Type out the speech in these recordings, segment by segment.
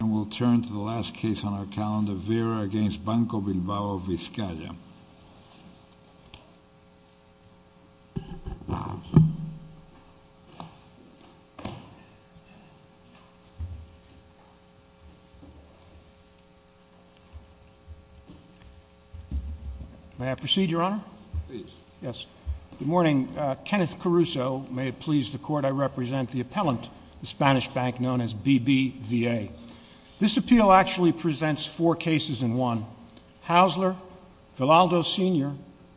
And we'll turn to the last case on our calendar, Vera v. Banco Bilbao Vizcaya. May I proceed, Your Honor? Please. Good morning. Kenneth Caruso. May it please the Court, I represent the appellant, the Spanish bank known as BBVA. This appeal actually presents four cases in one. Haussler, Vidaldo Sr.,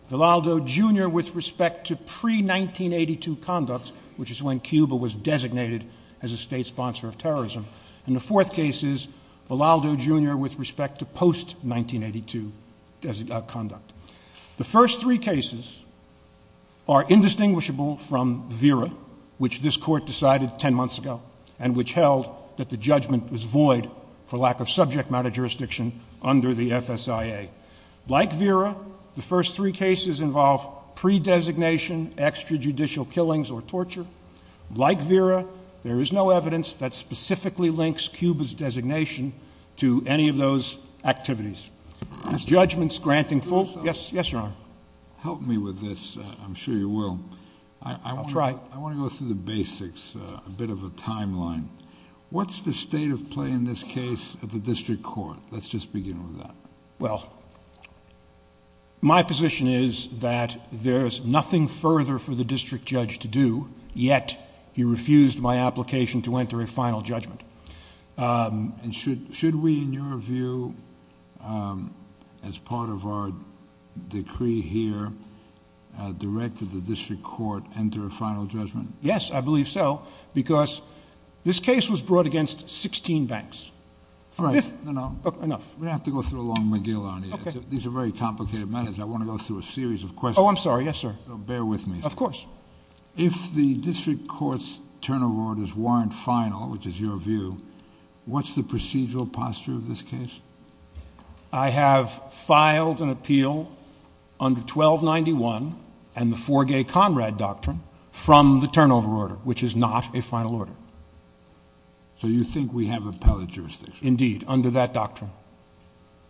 Vidaldo Jr. with respect to pre-1982 conduct, which is when Cuba was designated as a state sponsor of terrorism. And the fourth case is Vidaldo Jr. with respect to post-1982 conduct. The first three cases are indistinguishable from Vera, which this Court decided ten months ago, and which held that the judgment was void for lack of subject matter jurisdiction under the FSIA. Like Vera, the first three cases involve pre-designation, extrajudicial killings or torture. Like Vera, there is no evidence that specifically links Cuba's designation to any of those activities. Judgment's granting full... Mr. Caruso? Yes, Your Honor. Help me with this. I'm sure you will. I'll try. I want to go through the basics, a bit of a timeline. What's the state of play in this case of the district court? Let's just begin with that. Well, my position is that there's nothing further for the district judge to do, yet he refused my application to enter a final judgment. And should we, in your view, as part of our decree here, direct the district court to enter a final judgment? Yes, I believe so, because this case was brought against 16 banks. All right. No, no. Enough. We're going to have to go through a long McGill on it. These are very complicated matters. I want to go through a series of questions. Oh, I'm sorry. Yes, sir. So bear with me. Of course. If the district court's turnover orders weren't final, which is your view, what's the procedural posture of this case? I have filed an appeal under 1291 and the Four Gay Comrade Doctrine from the turnover order, which is not a final order. So you think we have appellate jurisdiction? Indeed, under that doctrine.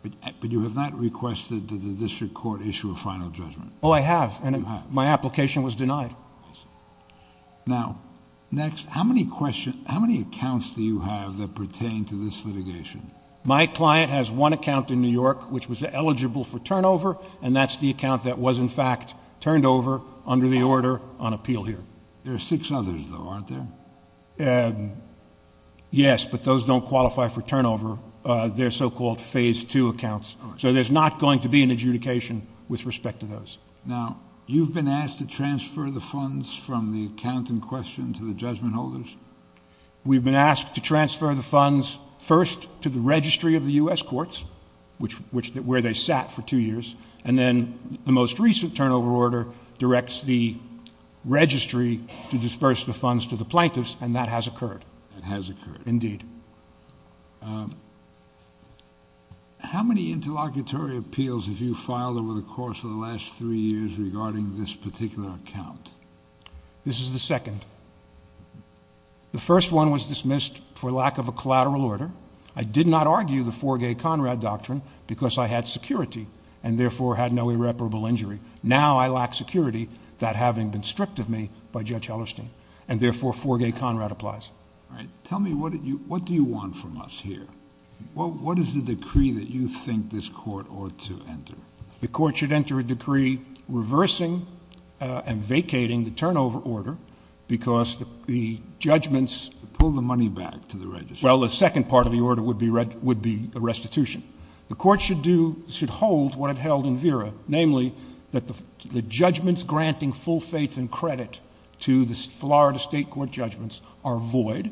But you have not requested that the district court issue a final judgment? Oh, I have, and my application was denied. I see. Now, next, how many accounts do you have that pertain to this litigation? My client has one account in New York which was eligible for turnover, and that's the account that was, in fact, turned over under the order on appeal here. There are six others, though, aren't there? Yes, but those don't qualify for turnover. They're so-called phase two accounts. So there's not going to be an adjudication with respect to those. Now, you've been asked to transfer the funds from the account in question to the judgment holders? We've been asked to transfer the funds first to the registry of the U.S. courts, where they sat for two years, and then the most recent turnover order directs the registry to disperse the funds to the plaintiffs, and that has occurred. That has occurred. Indeed. How many interlocutory appeals have you filed over the course of the last three years regarding this particular account? This is the second. The first one was dismissed for lack of a collateral order. I did not argue the Forgay-Conrad Doctrine because I had security and, therefore, had no irreparable injury. Now I lack security, that having been stripped of me by Judge Hellerstein, and, therefore, Forgay-Conrad applies. All right. Tell me, what do you want from us here? What is the decree that you think this court ought to enter? The court should enter a decree reversing and vacating the turnover order because the judgments— Pull the money back to the registry. Well, the second part of the order would be a restitution. The court should hold what it held in VERA, namely that the judgments granting full faith and credit to the Florida State Court judgments are void.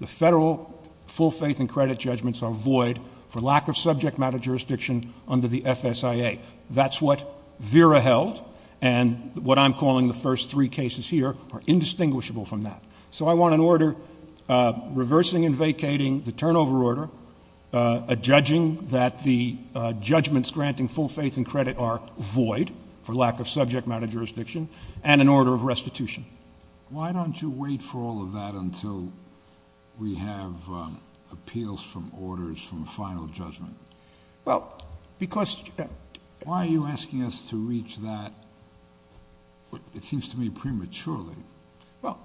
The federal full faith and credit judgments are void for lack of subject matter jurisdiction under the FSIA. That's what VERA held, and what I'm calling the first three cases here are indistinguishable from that. So I want an order reversing and vacating the turnover order, a judging that the judgments granting full faith and credit are void for lack of subject matter jurisdiction, and an order of restitution. Why don't you wait for all of that until we have appeals from orders from final judgment? Well, because— Why are you asking us to reach that, it seems to me, prematurely? Well,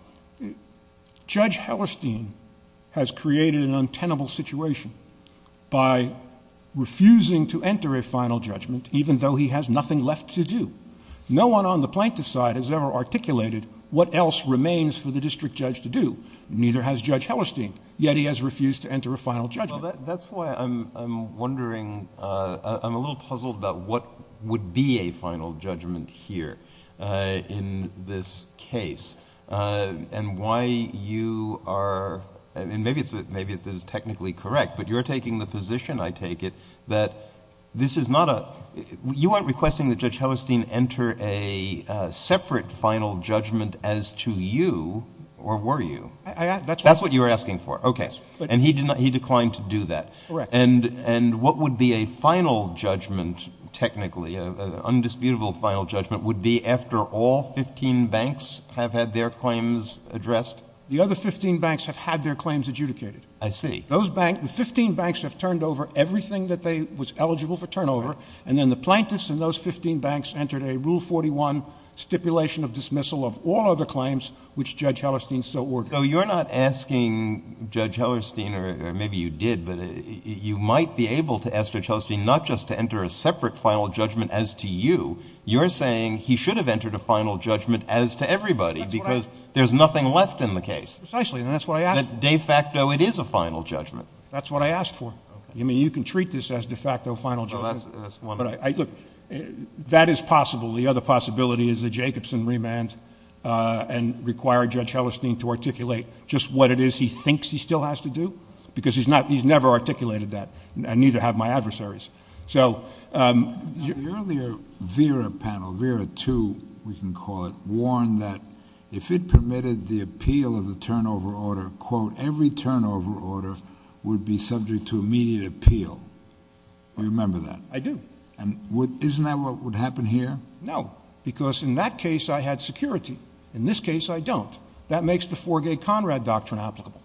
Judge Hellerstein has created an untenable situation by refusing to enter a final judgment even though he has nothing left to do. No one on the plaintiff's side has ever articulated what else remains for the district judge to do. Neither has Judge Hellerstein, yet he has refused to enter a final judgment. Well, that's why I'm wondering—I'm a little puzzled about what would be a final judgment here in this case, and why you are—and maybe this is technically correct, but you're taking the position, I take it, that this is not a—you aren't requesting that Judge Hellerstein enter a separate final judgment as to you, or were you? That's what you're asking for. Okay. And he declined to do that. Correct. And what would be a final judgment technically, an undisputable final judgment, would be after all 15 banks have had their claims addressed? The other 15 banks have had their claims adjudicated. I see. Those banks—the 15 banks have turned over everything that they—was eligible for turnover, and then the plaintiffs and those 15 banks entered a Rule 41 stipulation of dismissal of all other claims, which Judge Hellerstein so ordered. So you're not asking Judge Hellerstein—or maybe you did, but you might be able to ask Judge Hellerstein not just to enter a separate final judgment as to you. You're saying he should have entered a final judgment as to everybody because there's nothing left in the case. Precisely, and that's what I asked for. De facto, it is a final judgment. That's what I asked for. Okay. I mean, you can treat this as de facto final judgment. Well, that's one way. That is possible. The other possibility is the Jacobson remand and require Judge Hellerstein to articulate just what it is he thinks he still has to do because he's never articulated that, and neither have my adversaries. So— The earlier VERA panel, VERA 2, we can call it, warned that if it permitted the appeal of a turnover order, quote, every turnover order would be subject to immediate appeal. Do you remember that? I do. And isn't that what would happen here? No, because in that case, I had security. In this case, I don't. That makes the Forgay-Conrad Doctrine applicable.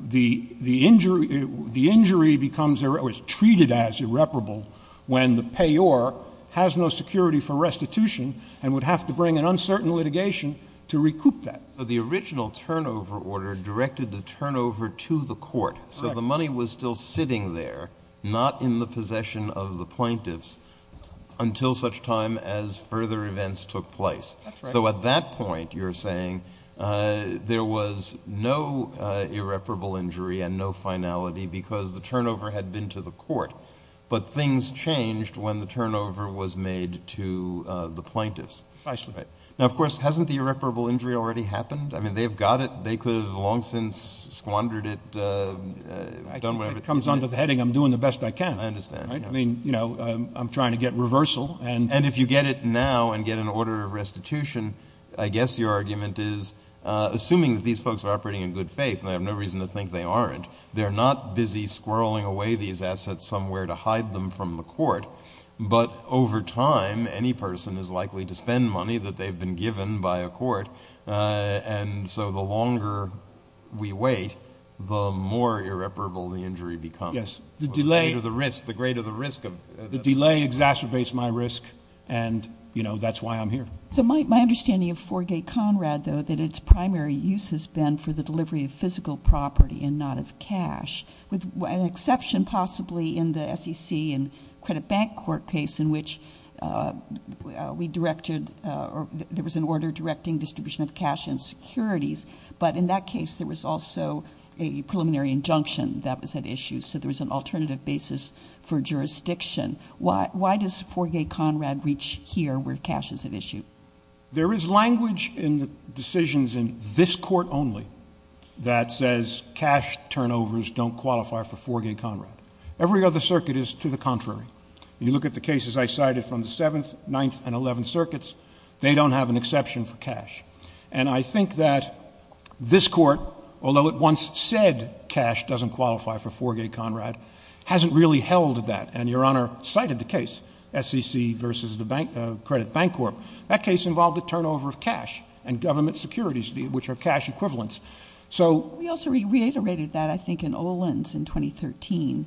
The injury becomes—or is treated as irreparable when the payor has no security for restitution and would have to bring an uncertain litigation to recoup that. So the original turnover order directed the turnover to the court. Correct. So the money was still sitting there, not in the possession of the plaintiffs, until such time as further events took place. That's right. So at that point, you're saying there was no irreparable injury and no finality because the turnover had been to the court, but things changed when the turnover was made to the plaintiffs. Precisely. Right. Now, of course, hasn't the irreparable injury already happened? I mean, they've got it. They could have long since squandered it. If it comes under the heading, I'm doing the best I can. I understand. I mean, you know, I'm trying to get reversal. And if you get it now and get an order of restitution, I guess your argument is, assuming that these folks are operating in good faith, and they have no reason to think they aren't, they're not busy squirreling away these assets somewhere to hide them from the court. But over time, any person is likely to spend money that they've been given by a court. And so the longer we wait, the more irreparable the injury becomes. Yes. The delay. The greater the risk. The delay exacerbates my risk, and, you know, that's why I'm here. So my understanding of Forgay-Conrad, though, that its primary use has been for the delivery of physical property and not of cash, with an exception possibly in the SEC and credit bank court case in which we directed or there was an order directing distribution of cash and securities. But in that case, there was also a preliminary injunction that was at issue, so there was an alternative basis for jurisdiction. Why does Forgay-Conrad reach here where cash is at issue? There is language in the decisions in this Court only that says cash turnovers don't qualify for Forgay-Conrad. Every other circuit is to the contrary. You look at the cases I cited from the Seventh, Ninth, and Eleventh Circuits, they don't have an exception for cash. And I think that this Court, although it once said cash doesn't qualify for Forgay-Conrad, hasn't really held that. And Your Honor cited the case, SEC versus the credit bank court. That case involved a turnover of cash and government securities, which are cash equivalents. We also reiterated that, I think, in Olin's in 2013,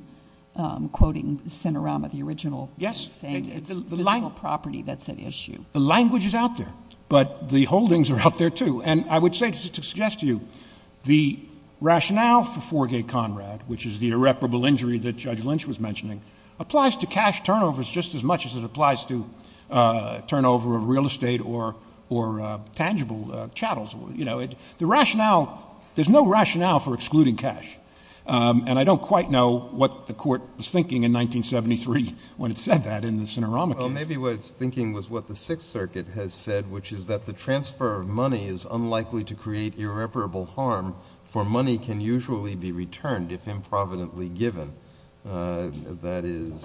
quoting Sinarama, the original thing. Yes. It's physical property that's at issue. The language is out there, but the holdings are out there, too. And I would say to suggest to you the rationale for Forgay-Conrad, which is the irreparable injury that Judge Lynch was mentioning, applies to cash turnovers just as much as it applies to turnover of real estate or tangible chattels. You know, the rationale, there's no rationale for excluding cash. And I don't quite know what the Court was thinking in 1973 when it said that in the Sinarama case. Well, maybe what it was thinking was what the Sixth Circuit has said, which is that the transfer of money is unlikely to create irreparable harm, for money can usually be returned if improvidently given. That is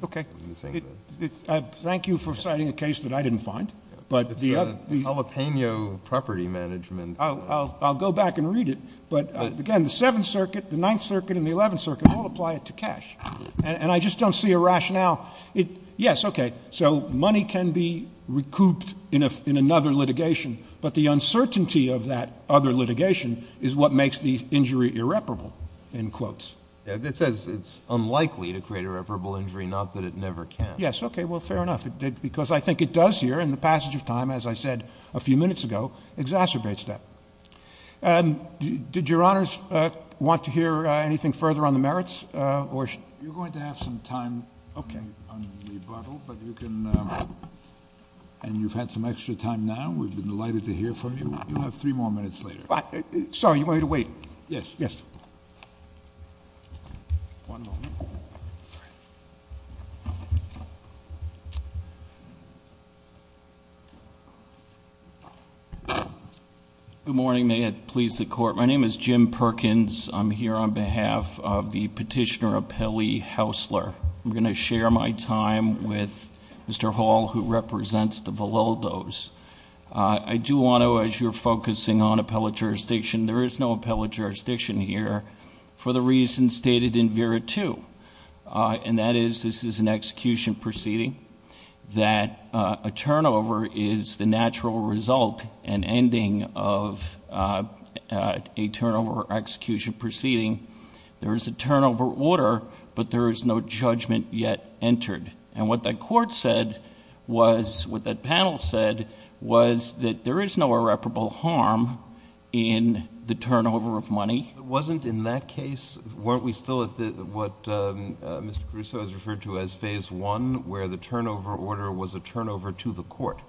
the thing. Okay. Thank you for citing a case that I didn't find. It's the Jalapeno property management. I'll go back and read it. But, again, the Seventh Circuit, the Ninth Circuit, and the Eleventh Circuit all apply it to cash. And I just don't see a rationale. Yes, okay, so money can be recouped in another litigation, but the uncertainty of that other litigation is what makes the injury irreparable, in quotes. It says it's unlikely to create irreparable injury, not that it never can. Yes, okay, well, fair enough, because I think it does here, and the passage of time, as I said a few minutes ago, exacerbates that. Did Your Honors want to hear anything further on the merits? You're going to have some time. Okay. On rebuttal, but you can, and you've had some extra time now. We've been delighted to hear from you. You have three more minutes later. Sorry, you want me to wait? Yes, yes. One moment. Good morning. May it please the Court. My name is Jim Perkins. I'm here on behalf of the petitioner, Apelli Haussler. I'm going to share my time with Mr. Hall, who represents the Valildos. I do want to, as you're focusing on appellate jurisdiction, there is no appellate jurisdiction here for the reasons stated in VERA 2, and that is this is an execution proceeding, that a turnover is the natural result and ending of a turnover execution proceeding. There is a turnover order, but there is no judgment yet entered. And what the Court said was, what that panel said, was that there is no irreparable harm in the turnover of money. Wasn't in that case, weren't we still at what Mr. Caruso has referred to as Phase I, where the turnover order was a turnover to the Court?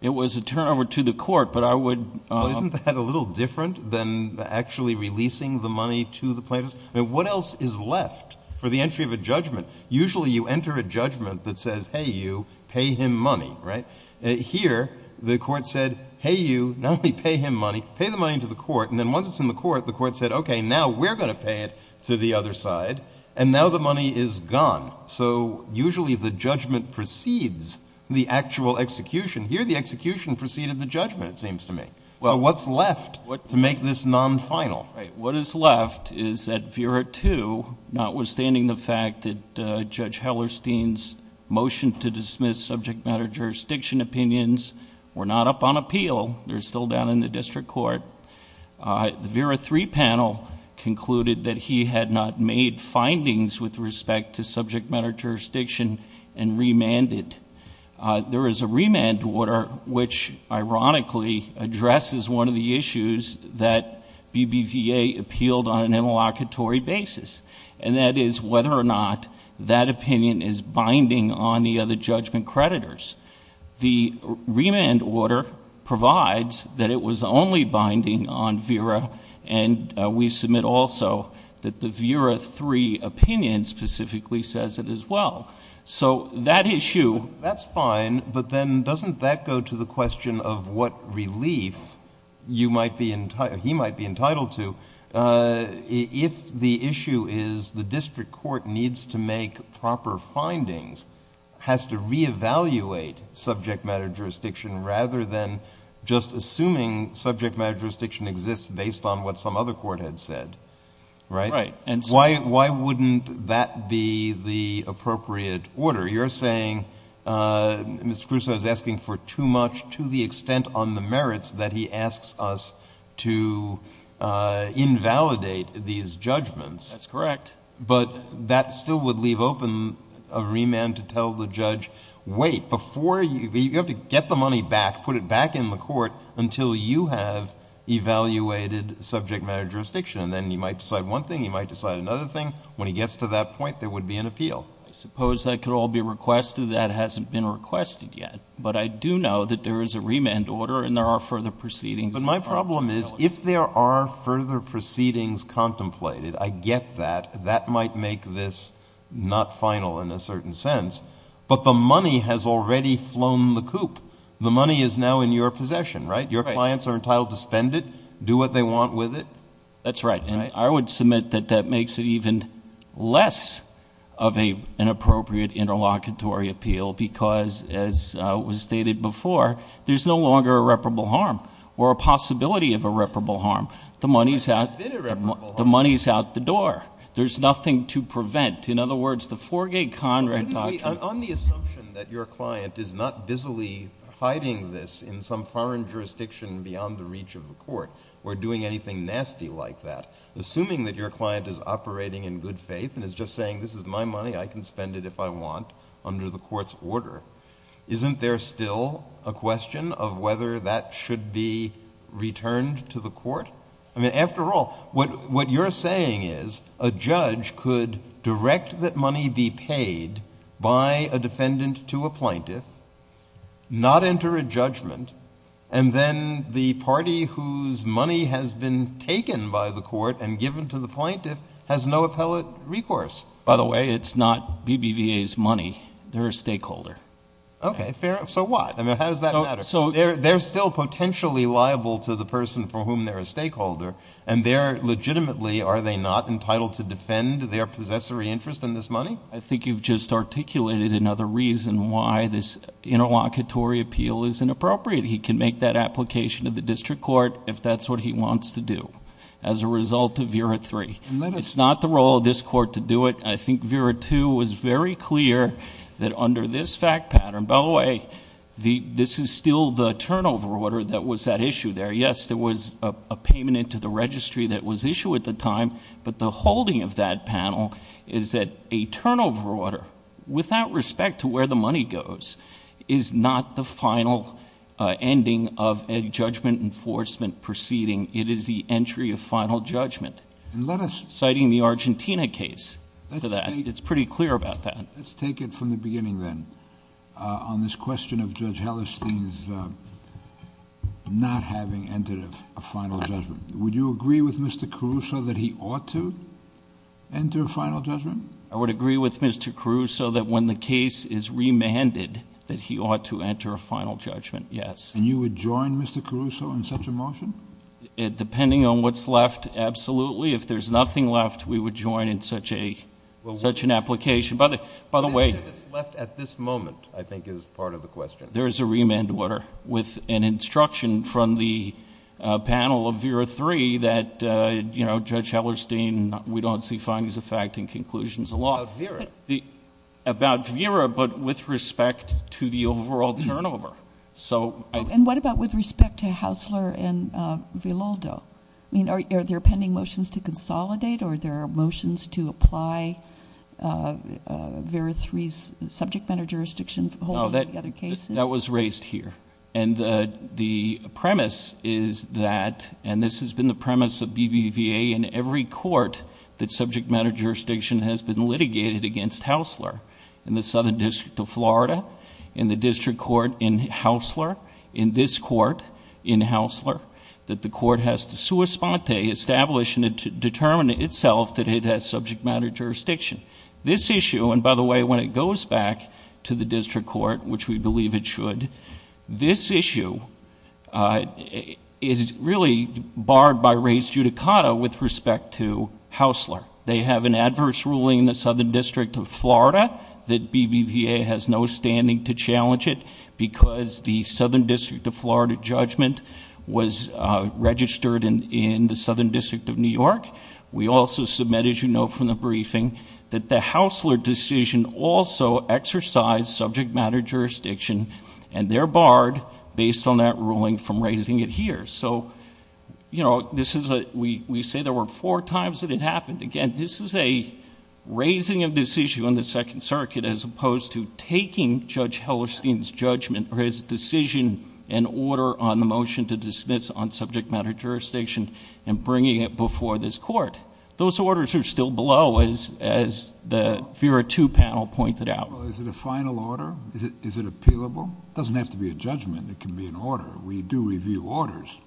It was a turnover to the Court, but I would... Well, isn't that a little different than actually releasing the money to the plaintiffs? What else is left for the entry of a judgment? Usually you enter a judgment that says, hey, you, pay him money, right? Here the Court said, hey, you, not only pay him money, pay the money to the Court. And then once it's in the Court, the Court said, okay, now we're going to pay it to the other side. And now the money is gone. So usually the judgment precedes the actual execution. Here the execution preceded the judgment, it seems to me. So what's left to make this non-final? What is left is that VERA II, notwithstanding the fact that Judge Hellerstein's motion to dismiss subject matter jurisdiction opinions were not up on appeal, they're still down in the district court, the VERA III panel concluded that he had not made findings with respect to subject matter jurisdiction and remanded. There is a remand order which ironically addresses one of the issues that BBVA appealed on an interlocutory basis, and that is whether or not that opinion is binding on the other judgment creditors. The remand order provides that it was only binding on VERA, and we submit also that the VERA III opinion specifically says it as well. So that issue... That's fine, but then doesn't that go to the question of what relief you might be... he might be entitled to if the issue is the district court needs to make proper findings, has to reevaluate subject matter jurisdiction rather than just assuming subject matter jurisdiction exists based on what some other court had said, right? Right. Why wouldn't that be the appropriate order? You're saying Mr. Crusoe is asking for too much to the extent on the merits that he asks us to invalidate these judgments. That's correct. But that still would leave open a remand to tell the judge, wait, before you... you have to get the money back, put it back in the court until you have evaluated subject matter jurisdiction, and then you might decide one thing, you might decide another thing. When he gets to that point, there would be an appeal. I suppose that could all be requested. That hasn't been requested yet. But I do know that there is a remand order and there are further proceedings. But my problem is if there are further proceedings contemplated, I get that, that might make this not final in a certain sense. But the money has already flown the coop. The money is now in your possession, right? Your clients are entitled to spend it, do what they want with it. That's right. And I would submit that that makes it even less of an appropriate interlocutory appeal because, as was stated before, there's no longer irreparable harm. Or a possibility of irreparable harm. There has been irreparable harm. The money is out the door. There's nothing to prevent. In other words, the Forgay-Conrad doctrine... On the assumption that your client is not busily hiding this in some foreign jurisdiction beyond the reach of the court or doing anything nasty like that, assuming that your client is operating in good faith and is just saying this is my money, I can spend it if I want under the court's order, isn't there still a question of whether that should be returned to the court? I mean, after all, what you're saying is a judge could direct that money be paid by a defendant to a plaintiff, not enter a judgment, and then the party whose money has been taken by the court and given to the plaintiff has no appellate recourse. By the way, it's not BBVA's money. They're a stakeholder. Okay, fair enough. So what? I mean, how does that matter? They're still potentially liable to the person for whom they're a stakeholder, and legitimately are they not entitled to defend their possessory interest in this money? I think you've just articulated another reason why this interlocutory appeal is inappropriate. He can make that application to the district court if that's what he wants to do as a result of VERA 3. It's not the role of this court to do it. I think VERA 2 was very clear that under this fact pattern, by the way, this is still the turnover order that was at issue there. Yes, there was a payment into the registry that was issued at the time, but the holding of that panel is that a turnover order, without respect to where the money goes, is not the final ending of a judgment enforcement proceeding. It is the entry of final judgment. Citing the Argentina case for that, it's pretty clear about that. Let's take it from the beginning, then, on this question of Judge Hellerstein's not having entered a final judgment. Would you agree with Mr. Caruso that he ought to enter a final judgment? I would agree with Mr. Caruso that when the case is remanded, that he ought to enter a final judgment, yes. And you would join Mr. Caruso in such a motion? Depending on what's left, absolutely. If there's nothing left, we would join in such an application. By the way... What's left at this moment, I think, is part of the question. There is a remand order with an instruction from the panel of VERA 3 that Judge Hellerstein, we don't see findings of fact and conclusions of law. About VERA. About VERA, but with respect to the overall turnover. What about with respect to Haussler and Villoldo? Are there pending motions to consolidate, or are there motions to apply VERA 3's subject matter jurisdiction holding to the other cases? That was raised here. The premise is that, and this has been the premise of BBVA in every court, that subject matter jurisdiction has been litigated against Haussler. In the Southern District of Florida, in the district court in Haussler, in this court in Haussler, that the court has to sua sponte, establish and determine itself that it has subject matter jurisdiction. This issue, and by the way, when it goes back to the district court, which we believe it should, this issue is really barred by res judicata with respect to Haussler. They have an adverse ruling in the Southern District of Florida that BBVA has no standing to challenge it because the Southern District of Florida judgment was registered in the Southern District of New York. We also submit, as you know from the briefing, that the Haussler decision also exercised subject matter jurisdiction, and they're barred, based on that ruling, from raising it here. We say there were four times that it happened. Again, this is a raising of this issue in the Second Circuit as opposed to taking Judge Hellerstein's judgment or his decision and order on the motion to dismiss on subject matter jurisdiction and bringing it before this court. Those orders are still below, as the VERA 2 panel pointed out. Is it a final order? Is it appealable? It doesn't have to be a judgment. It can be an order. We do review orders.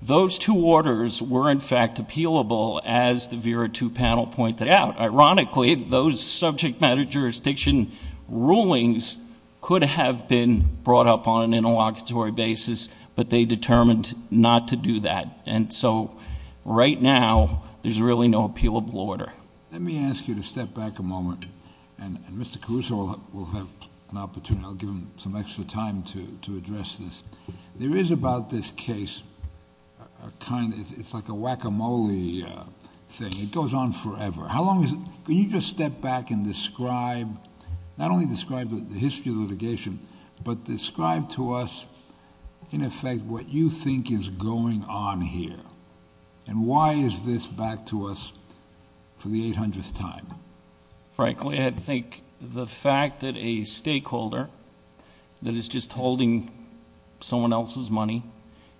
Those two orders were, in fact, appealable, as the VERA 2 panel pointed out. Ironically, those subject matter jurisdiction rulings could have been brought up on an interlocutory basis, but they determined not to do that, and so right now there's really no appealable order. Let me ask you to step back a moment, and Mr. Caruso will have an opportunity. I'll give him some extra time to address this. There is about this case a kind of... it's like a guacamole thing. It goes on forever. How long is... can you just step back and describe, not only describe the history of litigation, but describe to us, in effect, what you think is going on here, and why is this back to us for the 800th time? Frankly, I think the fact that a stakeholder that is just holding someone else's money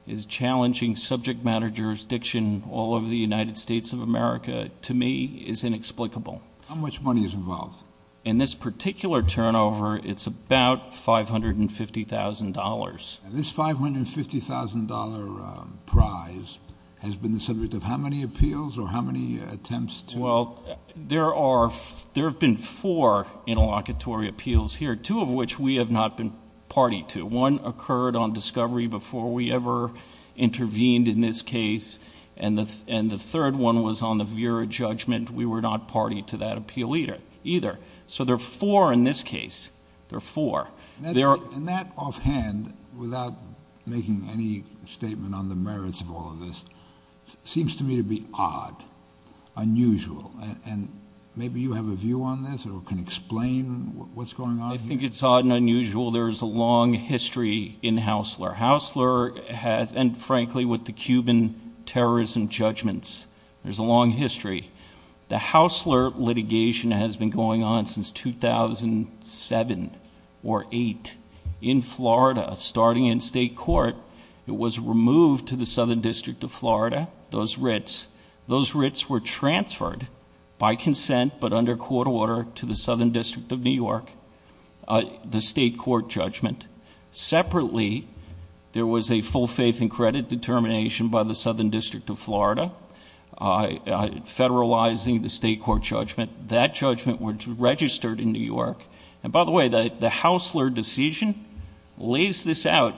is challenging subject matter jurisdiction all over the United States of America, to me, is inexplicable. How much money is involved? In this particular turnover, it's about $550,000. This $550,000 prize has been the subject of how many appeals or how many attempts to... Well, there have been four interlocutory appeals here, two of which we have not been party to. One occurred on discovery before we ever intervened in this case, and the third one was on the Vera judgment. We were not party to that appeal either. So there are four in this case. There are four. And that offhand, without making any statement on the merits of all of this, seems to me to be odd, unusual. And maybe you have a view on this or can explain what's going on here. I think it's odd and unusual. There is a long history in Haussler. Haussler has... and frankly, with the Cuban terrorism judgments, there's a long history. The Haussler litigation has been going on since 2007 or 2008 in Florida, starting in state court. It was removed to the Southern District of Florida, those writs. Those writs were transferred by consent but under court order to the Southern District of New York, the state court judgment. Separately, there was a full faith and credit determination by the Southern District of Florida. Federalizing the state court judgment. That judgment was registered in New York. And by the way, the Haussler decision lays this out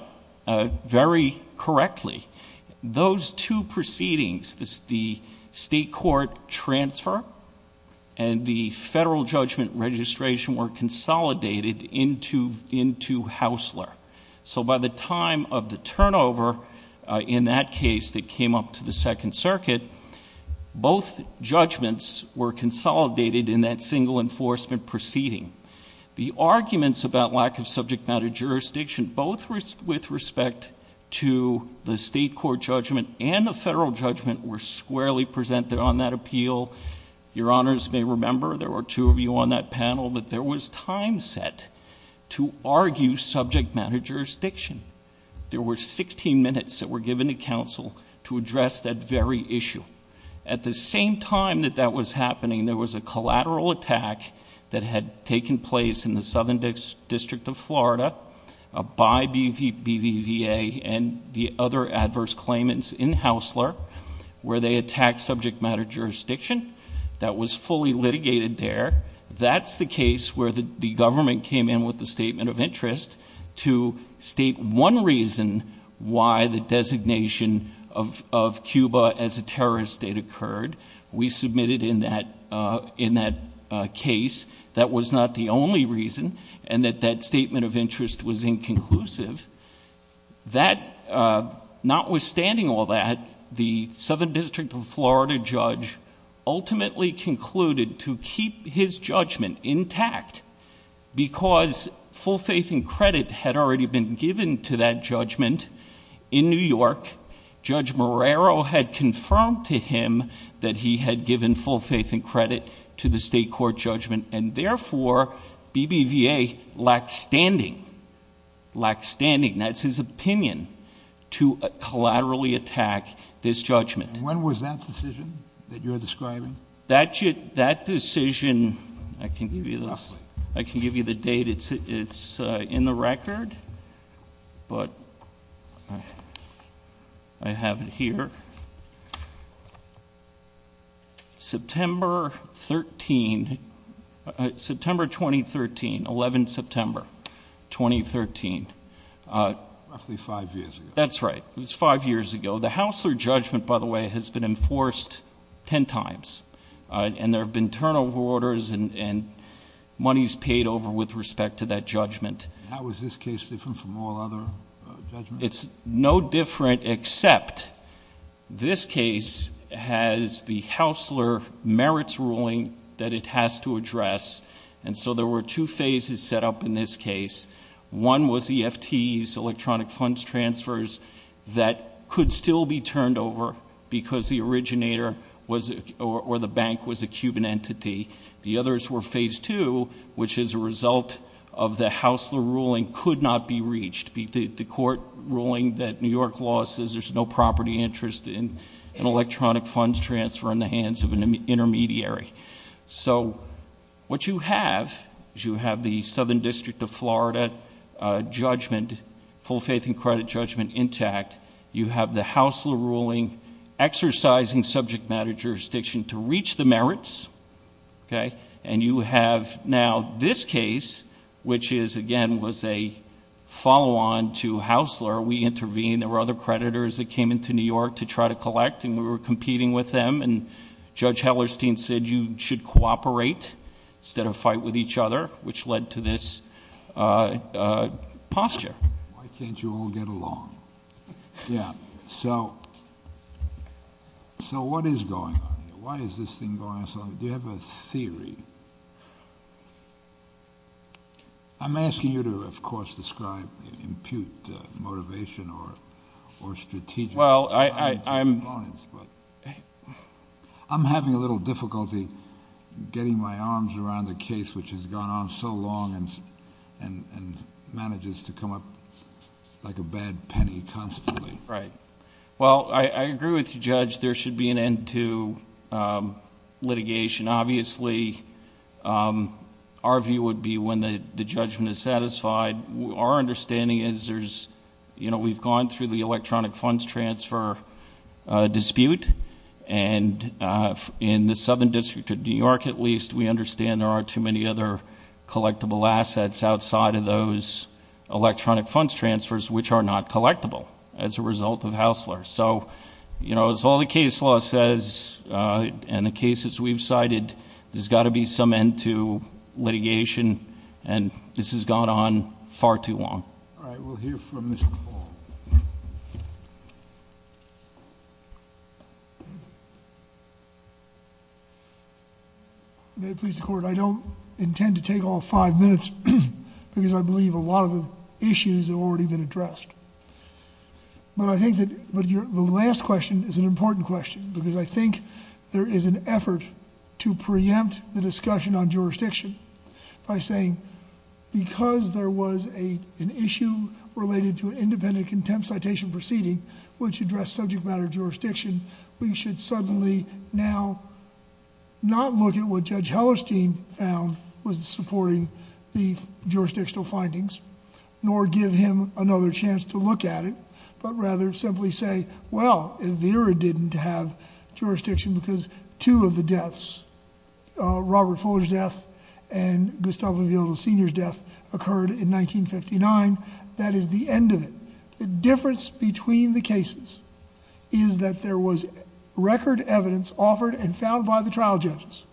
very correctly. Those two proceedings, the state court transfer and the federal judgment registration, were consolidated into Haussler. So by the time of the turnover in that case that came up to the Second Circuit, both judgments were consolidated in that single enforcement proceeding. The arguments about lack of subject matter jurisdiction, both with respect to the state court judgment and the federal judgment, were squarely presented on that appeal. Your honors may remember, there were two of you on that panel, that there was time set to argue subject matter jurisdiction. There were 16 minutes that were given to counsel to address that very issue. At the same time that that was happening, there was a collateral attack that had taken place in the Southern District of Florida, by BVVA and the other adverse claimants in Haussler, where they attacked subject matter jurisdiction. That was fully litigated there. That's the case where the government came in with the statement of interest to state one reason why the designation of Cuba as a terrorist state occurred. We submitted in that case that was not the only reason, and that that statement of interest was inconclusive. Notwithstanding all that, the Southern District of Florida judge ultimately concluded to keep his judgment intact, because full faith and credit had already been given to that judgment in New York. Judge Marrero had confirmed to him that he had given full faith and credit to the state court judgment. And therefore, BBVA lacked standing. Lacked standing. That's his opinion, to collaterally attack this judgment. When was that decision that you're describing? That decision, I can give you the date. It's in the record. But I have it here. September 13, September 2013, 11th September, 2013. Roughly five years ago. That's right. It was five years ago. The Haussler judgment, by the way, has been enforced ten times. And there have been turnover orders and monies paid over with respect to that judgment. How is this case different from all other judgments? It's no different, except this case has the Haussler merits ruling that it has to address. And so there were two phases set up in this case. One was EFTs, electronic funds transfers, that could still be turned over because the originator or the bank was a Cuban entity. The others were phase two, which is a result of the Haussler ruling could not be reached. The court ruling that New York law says there's no property interest in an electronic funds transfer in the hands of an intermediary. So what you have is you have the Southern District of Florida judgment, full faith and credit judgment, intact. You have the Haussler ruling exercising subject matter jurisdiction to reach the merits, okay? And you have now this case, which is, again, was a follow-on to Haussler. We intervened. There were other creditors that came into New York to try to collect, and we were competing with them. And Judge Hellerstein said you should cooperate instead of fight with each other, which led to this posture. Why can't you all get along? Yeah. So what is going on here? Why is this thing going on? Do you have a theory? I'm asking you to, of course, describe, impute motivation or strategic components, but I'm having a little difficulty getting my arms around the case, which has gone on so long and manages to come up like a bad penny constantly. Right. Well, I agree with you, Judge. There should be an end to litigation. Obviously, our view would be when the judgment is satisfied. Our understanding is there's, you know, we've gone through the electronic funds transfer dispute, and in the Southern District of New York, at least, we understand there are too many other collectible assets outside of those electronic funds transfers, which are not collectible as a result of Haussler. So, you know, as all the case law says and the cases we've cited, there's got to be some end to litigation, and this has gone on far too long. All right. We'll hear from Mr. Ball. May it please the Court, I don't intend to take all five minutes because I believe a lot of the issues have already been addressed. But I think that the last question is an important question because I think there is an effort to preempt the discussion on jurisdiction by saying, because there was an issue related to an independent contempt citation proceeding, which addressed subject matter jurisdiction, we should suddenly now not look at what Judge Hellerstein found was supporting the jurisdictional findings, nor give him another chance to look at it, but rather simply say, well, Vera didn't have jurisdiction because two of the deaths, Robert Fuller's death and Gustavo Villalobos Sr.'s death occurred in 1959. That is the end of it. The difference between the cases is that there was record evidence offered and found by the trial judges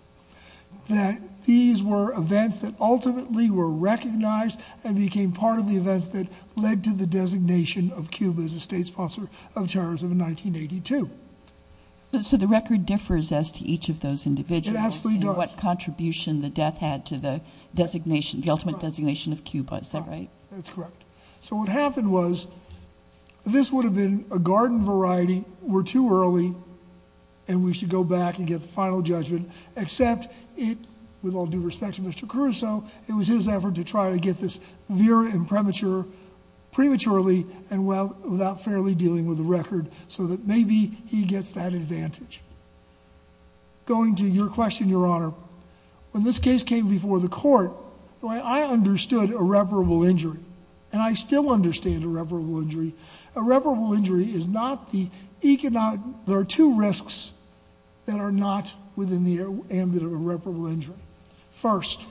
that these were events that ultimately were recognized and became part of the events that led to the designation of Cuba as a state sponsor of terrorism in 1982. So the record differs as to each of those individuals and what contribution the death had to the designation, the ultimate designation of Cuba. Is that right? That's correct. So what happened was, this would have been a garden variety, we're too early, and we should go back and get the final judgment, except it, with all due respect to Mr. Caruso, it was his effort to try to get this Vera and Premature prematurely and without fairly dealing with the record, so that maybe he gets that advantage. Going to your question, Your Honor, when this case came before the court, I understood irreparable injury, and I still understand irreparable injury. Irreparable injury is not the economic, there are two risks that are not within the ambit of irreparable injury. First,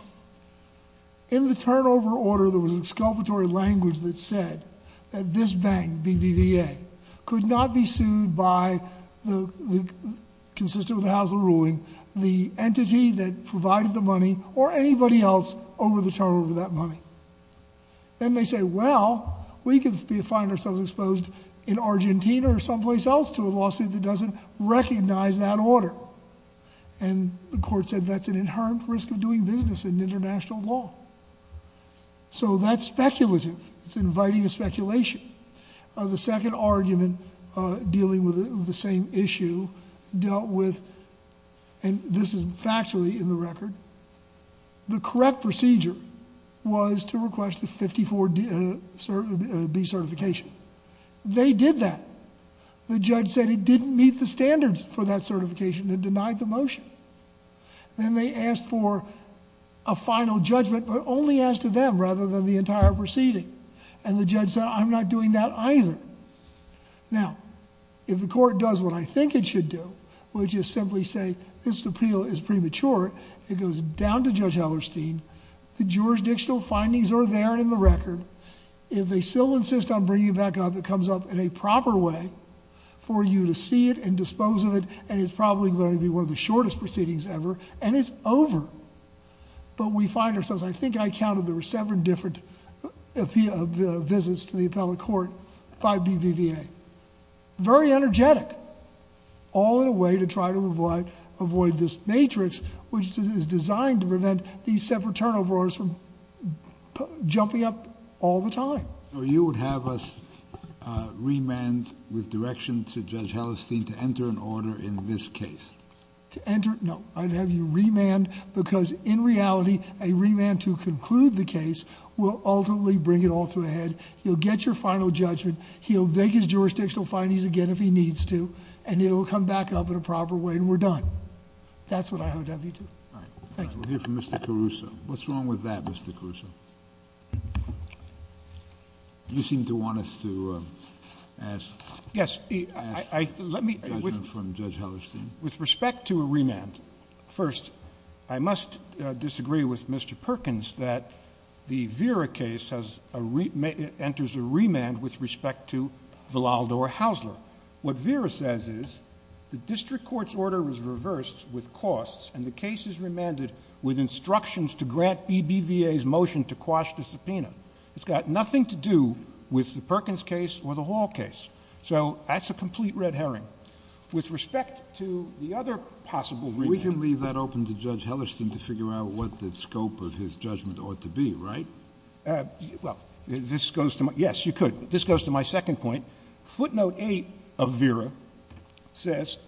in the turnover order, there was exculpatory language that said that this bank, BBVA, could not be sued by, consistent with the House of Ruling, the entity that provided the money or anybody else over the turnover of that money. Then they say, well, we could find ourselves exposed in Argentina or someplace else to a lawsuit that doesn't recognize that order. And the court said that's an inherent risk of doing business in international law. So that's speculative. It's inviting a speculation. The second argument dealing with the same issue dealt with, and this is factually in the record, the correct procedure was to request a 54B certification. They did that. The judge said it didn't meet the standards for that certification and denied the motion. Then they asked for a final judgment, but only asked to them rather than the entire proceeding. And the judge said, I'm not doing that either. Now, if the court does what I think it should do, which is simply say this appeal is premature, it goes down to Judge Hellerstein. The jurisdictional findings are there and in the record. If they still insist on bringing it back up, it comes up in a proper way for you to see it and dispose of it, and it's probably going to be one of the shortest proceedings ever, and it's over. But we find ourselves, I think I counted, there were seven different visits to the appellate court by BBVA. Very energetic, all in a way to try to avoid this matrix, which is designed to prevent these separate turnovers from jumping up all the time. So you would have us remand with direction to Judge Hellerstein to enter an order in this case? To enter? No. I'd have you remand because in reality, a remand to conclude the case will ultimately bring it all to a head. He'll get your final judgment. He'll make his jurisdictional findings again if he needs to, and it will come back up in a proper way, and we're done. That's what I would have you do. Thank you. We'll hear from Mr. Caruso. What's wrong with that, Mr. Caruso? You seem to want us to ask judgment from Judge Hellerstein. With respect to a remand, first, I must disagree with Mr. Perkins that the Vera case enters a remand with respect to Villaldo or Hausler. What Vera says is the district court's order was reversed with costs, and the case is remanded with instructions to grant BBVA's motion to quash the subpoena. It's got nothing to do with the Perkins case or the Hall case. So that's a complete red herring. With respect to the other possible remand— We can leave that open to Judge Hellerstein to figure out what the scope of his judgment ought to be, right? Well, this goes to my—yes, you could. This goes to my second point. Footnote 8 of Vera says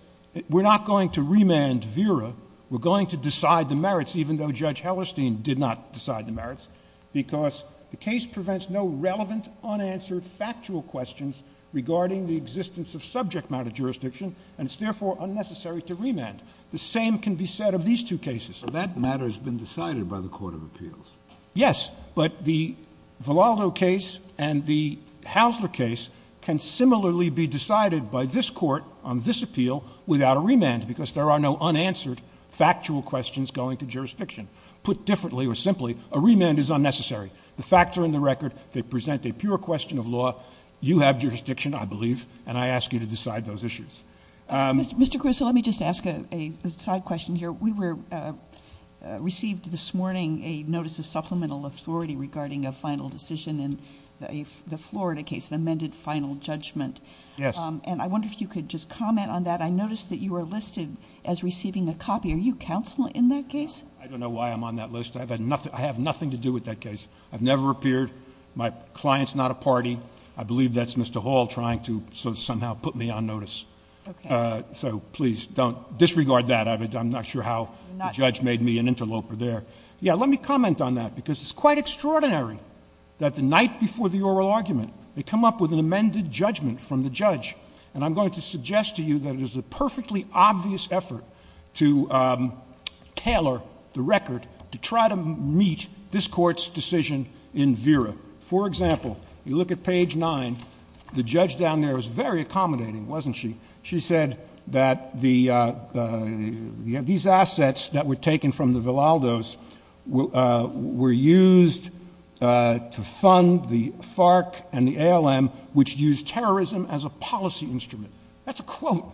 we're not going to remand Vera. We're going to decide the merits, even though Judge Hellerstein did not decide the merits, because the case prevents no relevant, unanswered, factual questions regarding the existence of subject matter jurisdiction, and it's therefore unnecessary to remand. The same can be said of these two cases. But that matter has been decided by the court of appeals. Yes, but the Valado case and the Haussler case can similarly be decided by this court on this appeal without a remand, because there are no unanswered, factual questions going to jurisdiction. Put differently or simply, a remand is unnecessary. The facts are in the record. They present a pure question of law. You have jurisdiction, I believe, and I ask you to decide those issues. Mr. Cruso, let me just ask a side question here. We received this morning a notice of supplemental authority regarding a final decision in the Florida case, the amended final judgment. Yes. And I wonder if you could just comment on that. I noticed that you were listed as receiving a copy. Are you counsel in that case? I don't know why I'm on that list. I have nothing to do with that case. I've never appeared. My client's not a party. I believe that's Mr. Hall trying to somehow put me on notice. Okay. So please, disregard that. I'm not sure how the judge made me an interloper there. Yeah, let me comment on that, because it's quite extraordinary that the night before the oral argument, they come up with an amended judgment from the judge. And I'm going to suggest to you that it is a perfectly obvious effort to tailor the record to try to meet this Court's decision in VERA. For example, you look at page 9. The judge down there was very accommodating, wasn't she? She said that these assets that were taken from the Velaldos were used to fund the FARC and the ALM, which used terrorism as a policy instrument. That's a quote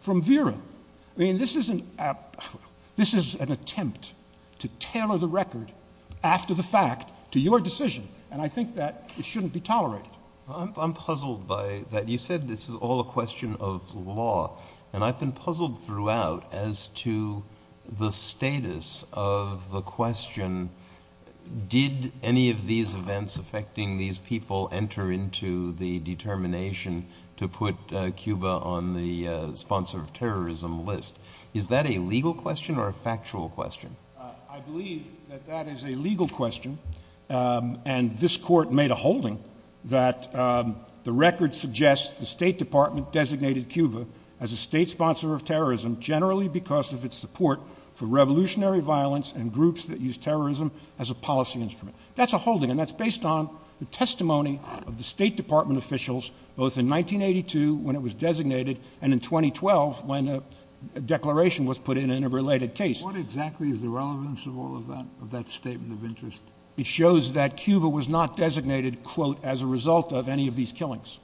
from VERA. I mean, this is an attempt to tailor the record after the fact to your decision, and I think that it shouldn't be tolerated. I'm puzzled by that. You said this is all a question of law, and I've been puzzled throughout as to the status of the question, did any of these events affecting these people enter into the determination to put Cuba on the sponsor of terrorism list? Is that a legal question or a factual question? I believe that that is a legal question, and this Court made a holding that the record suggests the State Department designated Cuba as a state sponsor of terrorism, generally because of its support for revolutionary violence and groups that use terrorism as a policy instrument. That's a holding, and that's based on the testimony of the State Department officials both in 1982 when it was designated and in 2012 when a declaration was put in in a related case. What exactly is the relevance of all of that, of that statement of interest? It shows that Cuba was not designated, quote, as a result of any of these killings.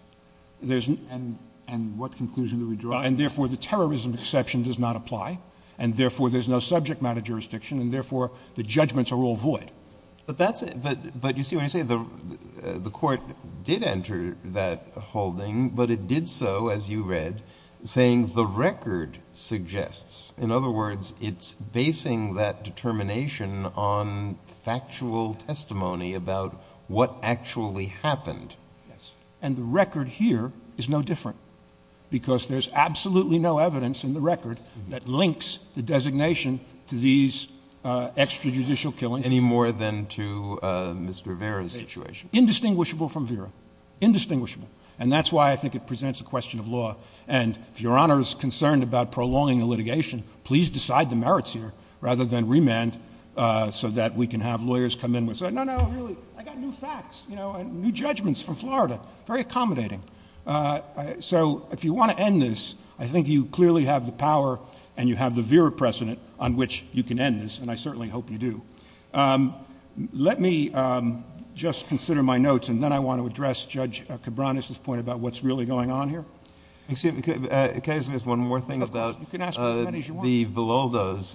And what conclusion do we draw? And, therefore, the terrorism exception does not apply, and, therefore, there's no subject matter jurisdiction, and, therefore, the judgments are all void. But you see, when I say the Court did enter that holding, but it did so, as you read, saying the record suggests. In other words, it's basing that determination on factual testimony about what actually happened. Yes, and the record here is no different, because there's absolutely no evidence in the record that links the designation to these extrajudicial killings. Any more than to Mr. Vera's situation. Indistinguishable from Vera. Indistinguishable. And that's why I think it presents a question of law. And if Your Honor is concerned about prolonging the litigation, please decide the merits here rather than remand so that we can have lawyers come in and say, no, no, really, I got new facts, you know, and new judgments from Florida. Very accommodating. So if you want to end this, I think you clearly have the power and you have the Vera precedent on which you can end this, and I certainly hope you do. Let me just consider my notes, and then I want to address Judge Cabranes' point about what's really going on here. Excuse me. Can I ask just one more thing about the Villaldos? Of course, you can ask as many as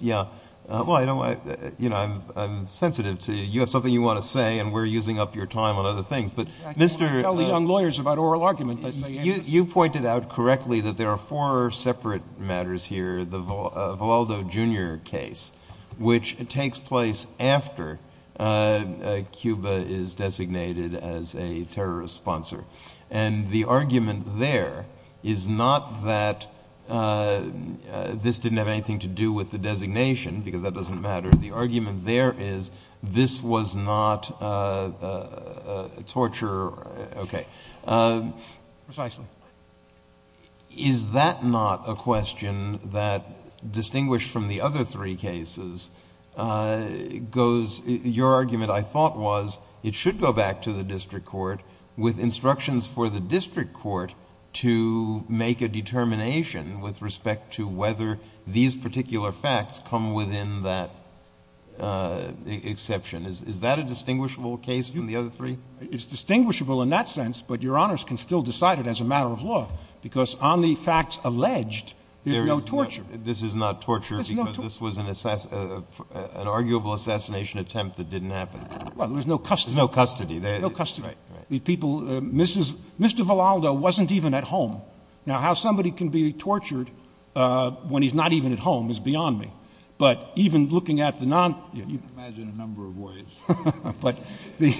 you want. Yeah. Well, you know, I'm sensitive to you. You have something you want to say, and we're using up your time on other things. But Mr. — I can only tell the young lawyers about oral argument. You pointed out correctly that there are four separate matters here, the Villaldo Jr. case, which takes place after Cuba is designated as a terrorist sponsor. And the argument there is not that this didn't have anything to do with the designation, because that doesn't matter. The argument there is this was not a torture. Okay. Precisely. Is that not a question that, distinguished from the other three cases, goes... Is that a distinguishable case from the other three? It's distinguishable in that sense, but Your Honors can still decide it as a matter of law, because on the facts alleged, there's no torture. This is not torture because this was an arguable assassination attempt that didn't happen. Well, there's no custody. There's no custody. No custody. Right, right. Mr. Villaldo wasn't even at home. Now, how somebody can be tortured when he's not even at home is beyond me. But even looking at the non... I can't imagine a number of ways. But the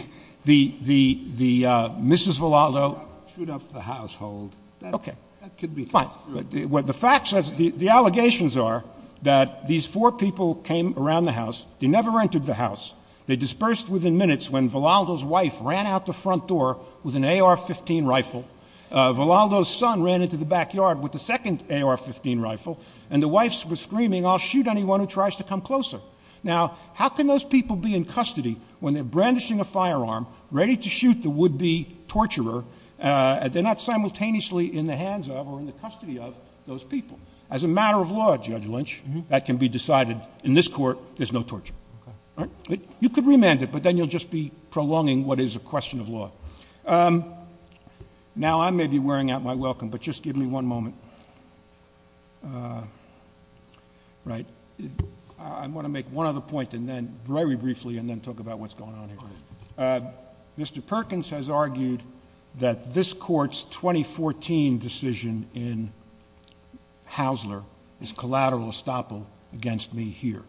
Mrs. Villaldo... Shoot up the household. Okay. That could be... Fine. The allegations are that these four people came around the house. They never entered the house. They dispersed within minutes when Villaldo's wife ran out the front door with an AR-15 rifle. Villaldo's son ran into the backyard with the second AR-15 rifle, and the wife was screaming, I'll shoot anyone who tries to come closer. Now, how can those people be in custody when they're brandishing a firearm, ready to shoot the would-be torturer, and they're not simultaneously in the hands of or in the custody of those people? As a matter of law, Judge Lynch, that can be decided. In this court, there's no torture. Okay. You could remand it, but then you'll just be prolonging what is a question of law. Now, I may be wearing out my welcome, but just give me one moment. Right. I want to make one other point, and then very briefly, and then talk about what's going on here. Mr. Perkins has argued that this Court's 2014 decision in Haussler is collateral estoppel against me here.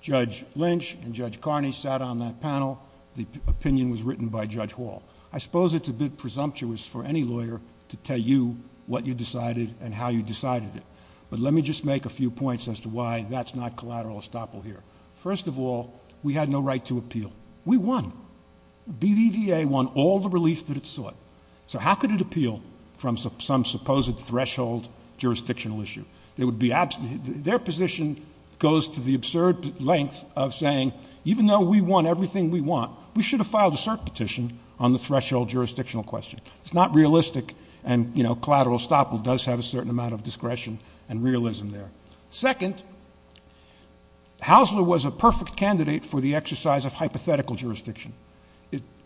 Judge Lynch and Judge Carney sat on that panel. The opinion was written by Judge Hall. I suppose it's a bit presumptuous for any lawyer to tell you what you decided and how you decided it, but let me just make a few points as to why that's not collateral estoppel here. First of all, we had no right to appeal. We won. BBVA won all the relief that it sought, so how could it appeal from some supposed threshold jurisdictional issue? Their position goes to the absurd length of saying, even though we won everything we want, we should have filed a cert petition on the threshold jurisdictional question. It's not realistic, and collateral estoppel does have a certain amount of discretion and realism there. Second, Haussler was a perfect candidate for the exercise of hypothetical jurisdiction.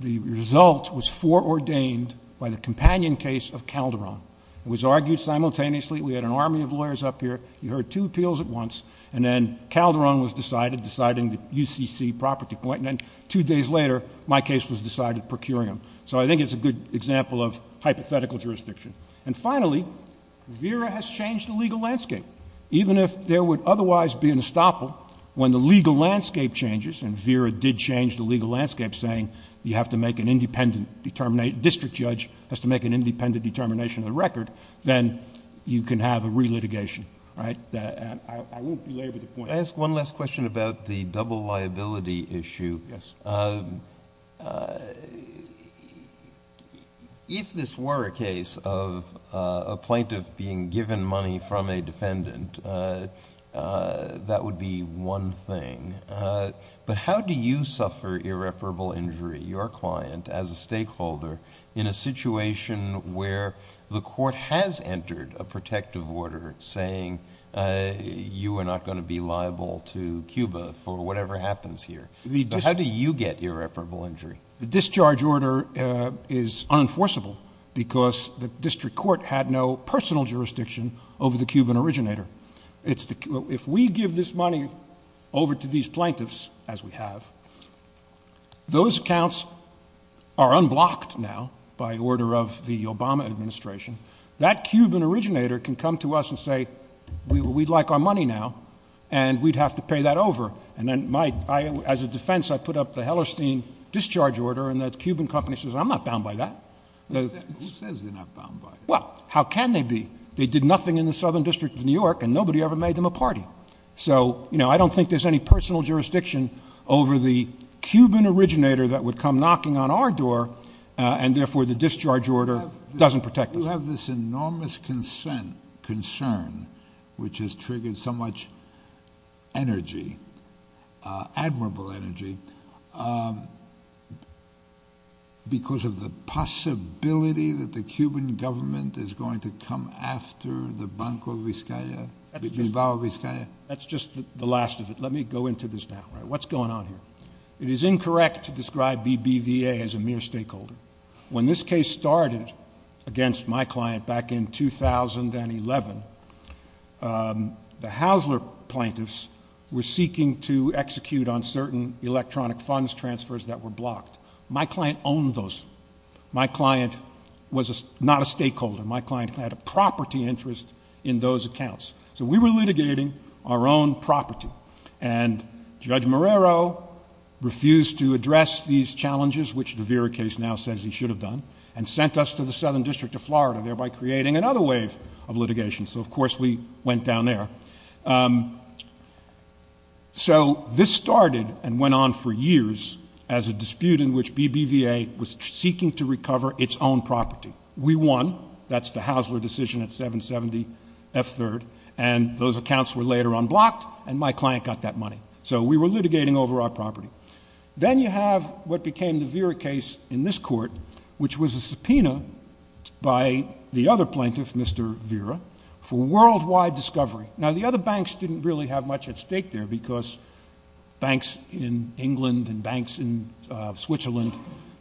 The result was foreordained by the companion case of Calderon. It was argued simultaneously. We had an army of lawyers up here. You heard two appeals at once, and then Calderon was decided, deciding the UCC property point, and then two days later, my case was decided, procuring them. So I think it's a good example of hypothetical jurisdiction. And finally, VERA has changed the legal landscape. Even if there would otherwise be an estoppel, when the legal landscape changes, and VERA did change the legal landscape, saying you have to make an independent determination, a district judge has to make an independent determination of the record, then you can have a re-litigation. I won't belabor the point. I'll ask one last question about the double liability issue. Yes. If this were a case of a plaintiff being given money from a defendant, that would be one thing. But how do you suffer irreparable injury, your client, as a stakeholder, in a situation where the court has entered a protective order saying you are not going to be liable to Cuba for whatever happens here? How do you get irreparable injury? The discharge order is unenforceable because the district court had no personal jurisdiction over the Cuban originator. If we give this money over to these plaintiffs, as we have, those accounts are unblocked now by order of the Obama administration. That Cuban originator can come to us and say, we'd like our money now, and we'd have to pay that over. As a defense, I put up the Hellerstein discharge order, and that Cuban company says, I'm not bound by that. Who says they're not bound by that? Well, how can they be? They did nothing in the Southern District of New York, and nobody ever made them a party. So, you know, I don't think there's any personal jurisdiction over the Cuban originator that would come knocking on our door, and therefore the discharge order doesn't protect us. You have this enormous concern, which has triggered so much energy, admirable energy, because of the possibility that the Cuban government is going to come after the Banco Vizcaya, Vizbao Vizcaya? That's just the last of it. Let me go into this now. What's going on here? It is incorrect to describe BBVA as a mere stakeholder. When this case started against my client back in 2011, the Haussler plaintiffs were seeking to execute on certain electronic funds transfers that were blocked. My client owned those. My client was not a stakeholder. My client had a property interest in those accounts. So we were litigating our own property, and Judge Marrero refused to address these challenges, which the Vera case now says he should have done, and sent us to the Southern District of Florida, thereby creating another wave of litigation. So, of course, we went down there. So this started and went on for years as a dispute in which BBVA was seeking to recover its own property. We won. That's the Haussler decision at 770 F3rd. And those accounts were later unblocked, and my client got that money. So we were litigating over our property. Then you have what became the Vera case in this court, which was a subpoena by the other plaintiff, Mr. Vera, for worldwide discovery. Now, the other banks didn't really have much at stake there because banks in England and banks in Switzerland,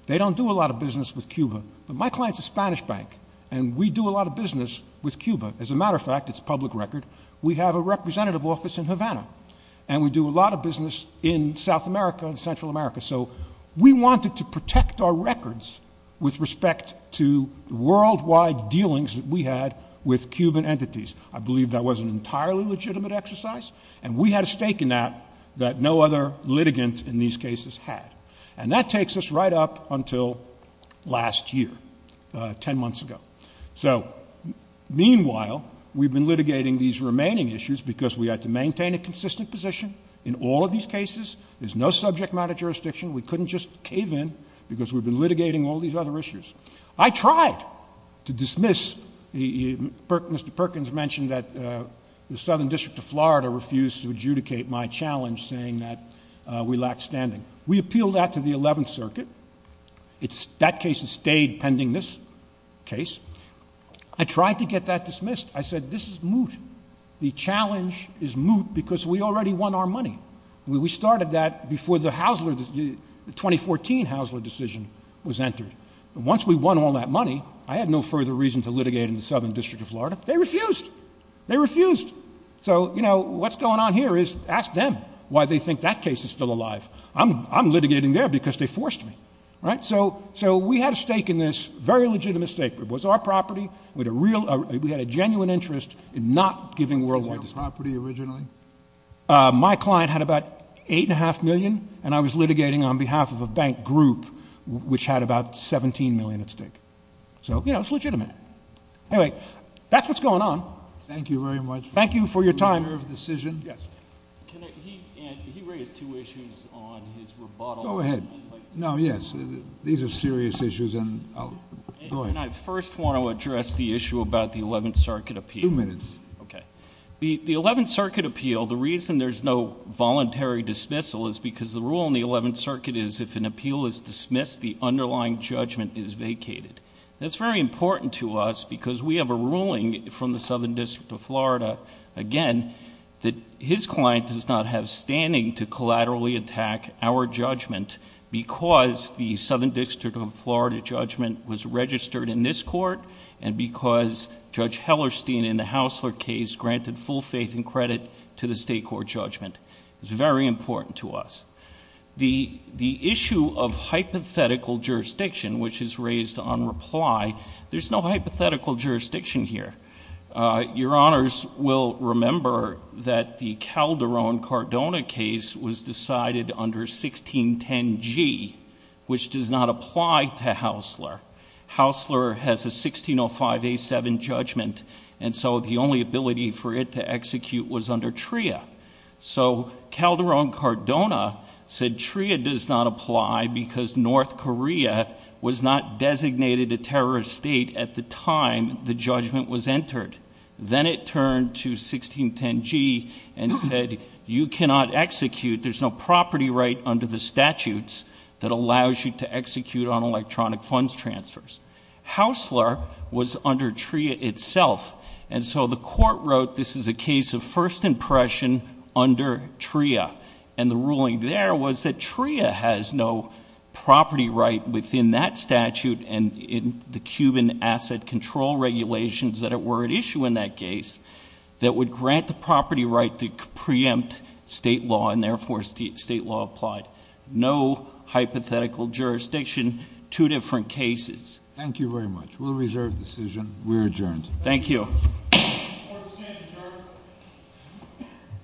they don't do a lot of business with Cuba. But my client's a Spanish bank, and we do a lot of business with Cuba. As a matter of fact, it's a public record. We have a representative office in Havana, and we do a lot of business in South America and Central America. So we wanted to protect our records with respect to the worldwide dealings that we had with Cuban entities. I believe that was an entirely legitimate exercise, and we had a stake in that that no other litigant in these cases had. And that takes us right up until last year, 10 months ago. So meanwhile, we've been litigating these remaining issues because we had to maintain a consistent position in all of these cases. There's no subject matter jurisdiction. We couldn't just cave in because we've been litigating all these other issues. I tried to dismiss. Mr. Perkins mentioned that the Southern District of Florida refused to adjudicate my challenge, saying that we lacked standing. We appealed that to the Eleventh Circuit. That case has stayed pending this case. I tried to get that dismissed. I said, this is moot. The challenge is moot because we already won our money. We started that before the 2014 Haussler decision was entered. Once we won all that money, I had no further reason to litigate in the Southern District of Florida. They refused. They refused. So, you know, what's going on here is ask them why they think that case is still alive. I'm litigating there because they forced me. So we had a stake in this, a very legitimate stake. It was our property. We had a genuine interest in not giving worldwide dispute. Was it your property originally? My client had about $8.5 million, and I was litigating on behalf of a bank group, which had about $17 million at stake. So, you know, it's legitimate. Anyway, that's what's going on. Thank you very much. Thank you for your time. Yes. He raised two issues on his rebuttal. Go ahead. No, yes. These are serious issues, and I'll go ahead. And I first want to address the issue about the Eleventh Circuit appeal. Two minutes. Okay. The Eleventh Circuit appeal, the reason there's no voluntary dismissal is because the rule in the Eleventh Circuit is if an appeal is dismissed, the underlying judgment is vacated. That's very important to us because we have a ruling from the Southern District of Florida, again, that his client does not have standing to collaterally attack our judgment because the Southern District of Florida judgment was registered in this court and because Judge Hellerstein in the Haussler case granted full faith and credit to the state court judgment. It's very important to us. The issue of hypothetical jurisdiction, which is raised on reply, there's no hypothetical jurisdiction here. Your Honors will remember that the Calderon-Cardona case was decided under 1610G, which does not apply to Haussler. Haussler has a 1605A7 judgment, and so the only ability for it to execute was under TRIA. So Calderon-Cardona said TRIA does not apply because North Korea was not designated a terrorist state at the time the judgment was entered. Then it turned to 1610G and said you cannot execute. There's no property right under the statutes that allows you to execute on electronic funds transfers. Haussler was under TRIA itself. And so the court wrote this is a case of first impression under TRIA, and the ruling there was that TRIA has no property right within that statute and in the Cuban asset control regulations that were at issue in that case that would grant the property right to preempt state law and therefore state law applied. No hypothetical jurisdiction, two different cases. Thank you very much. We'll reserve the decision. We're adjourned. Thank you.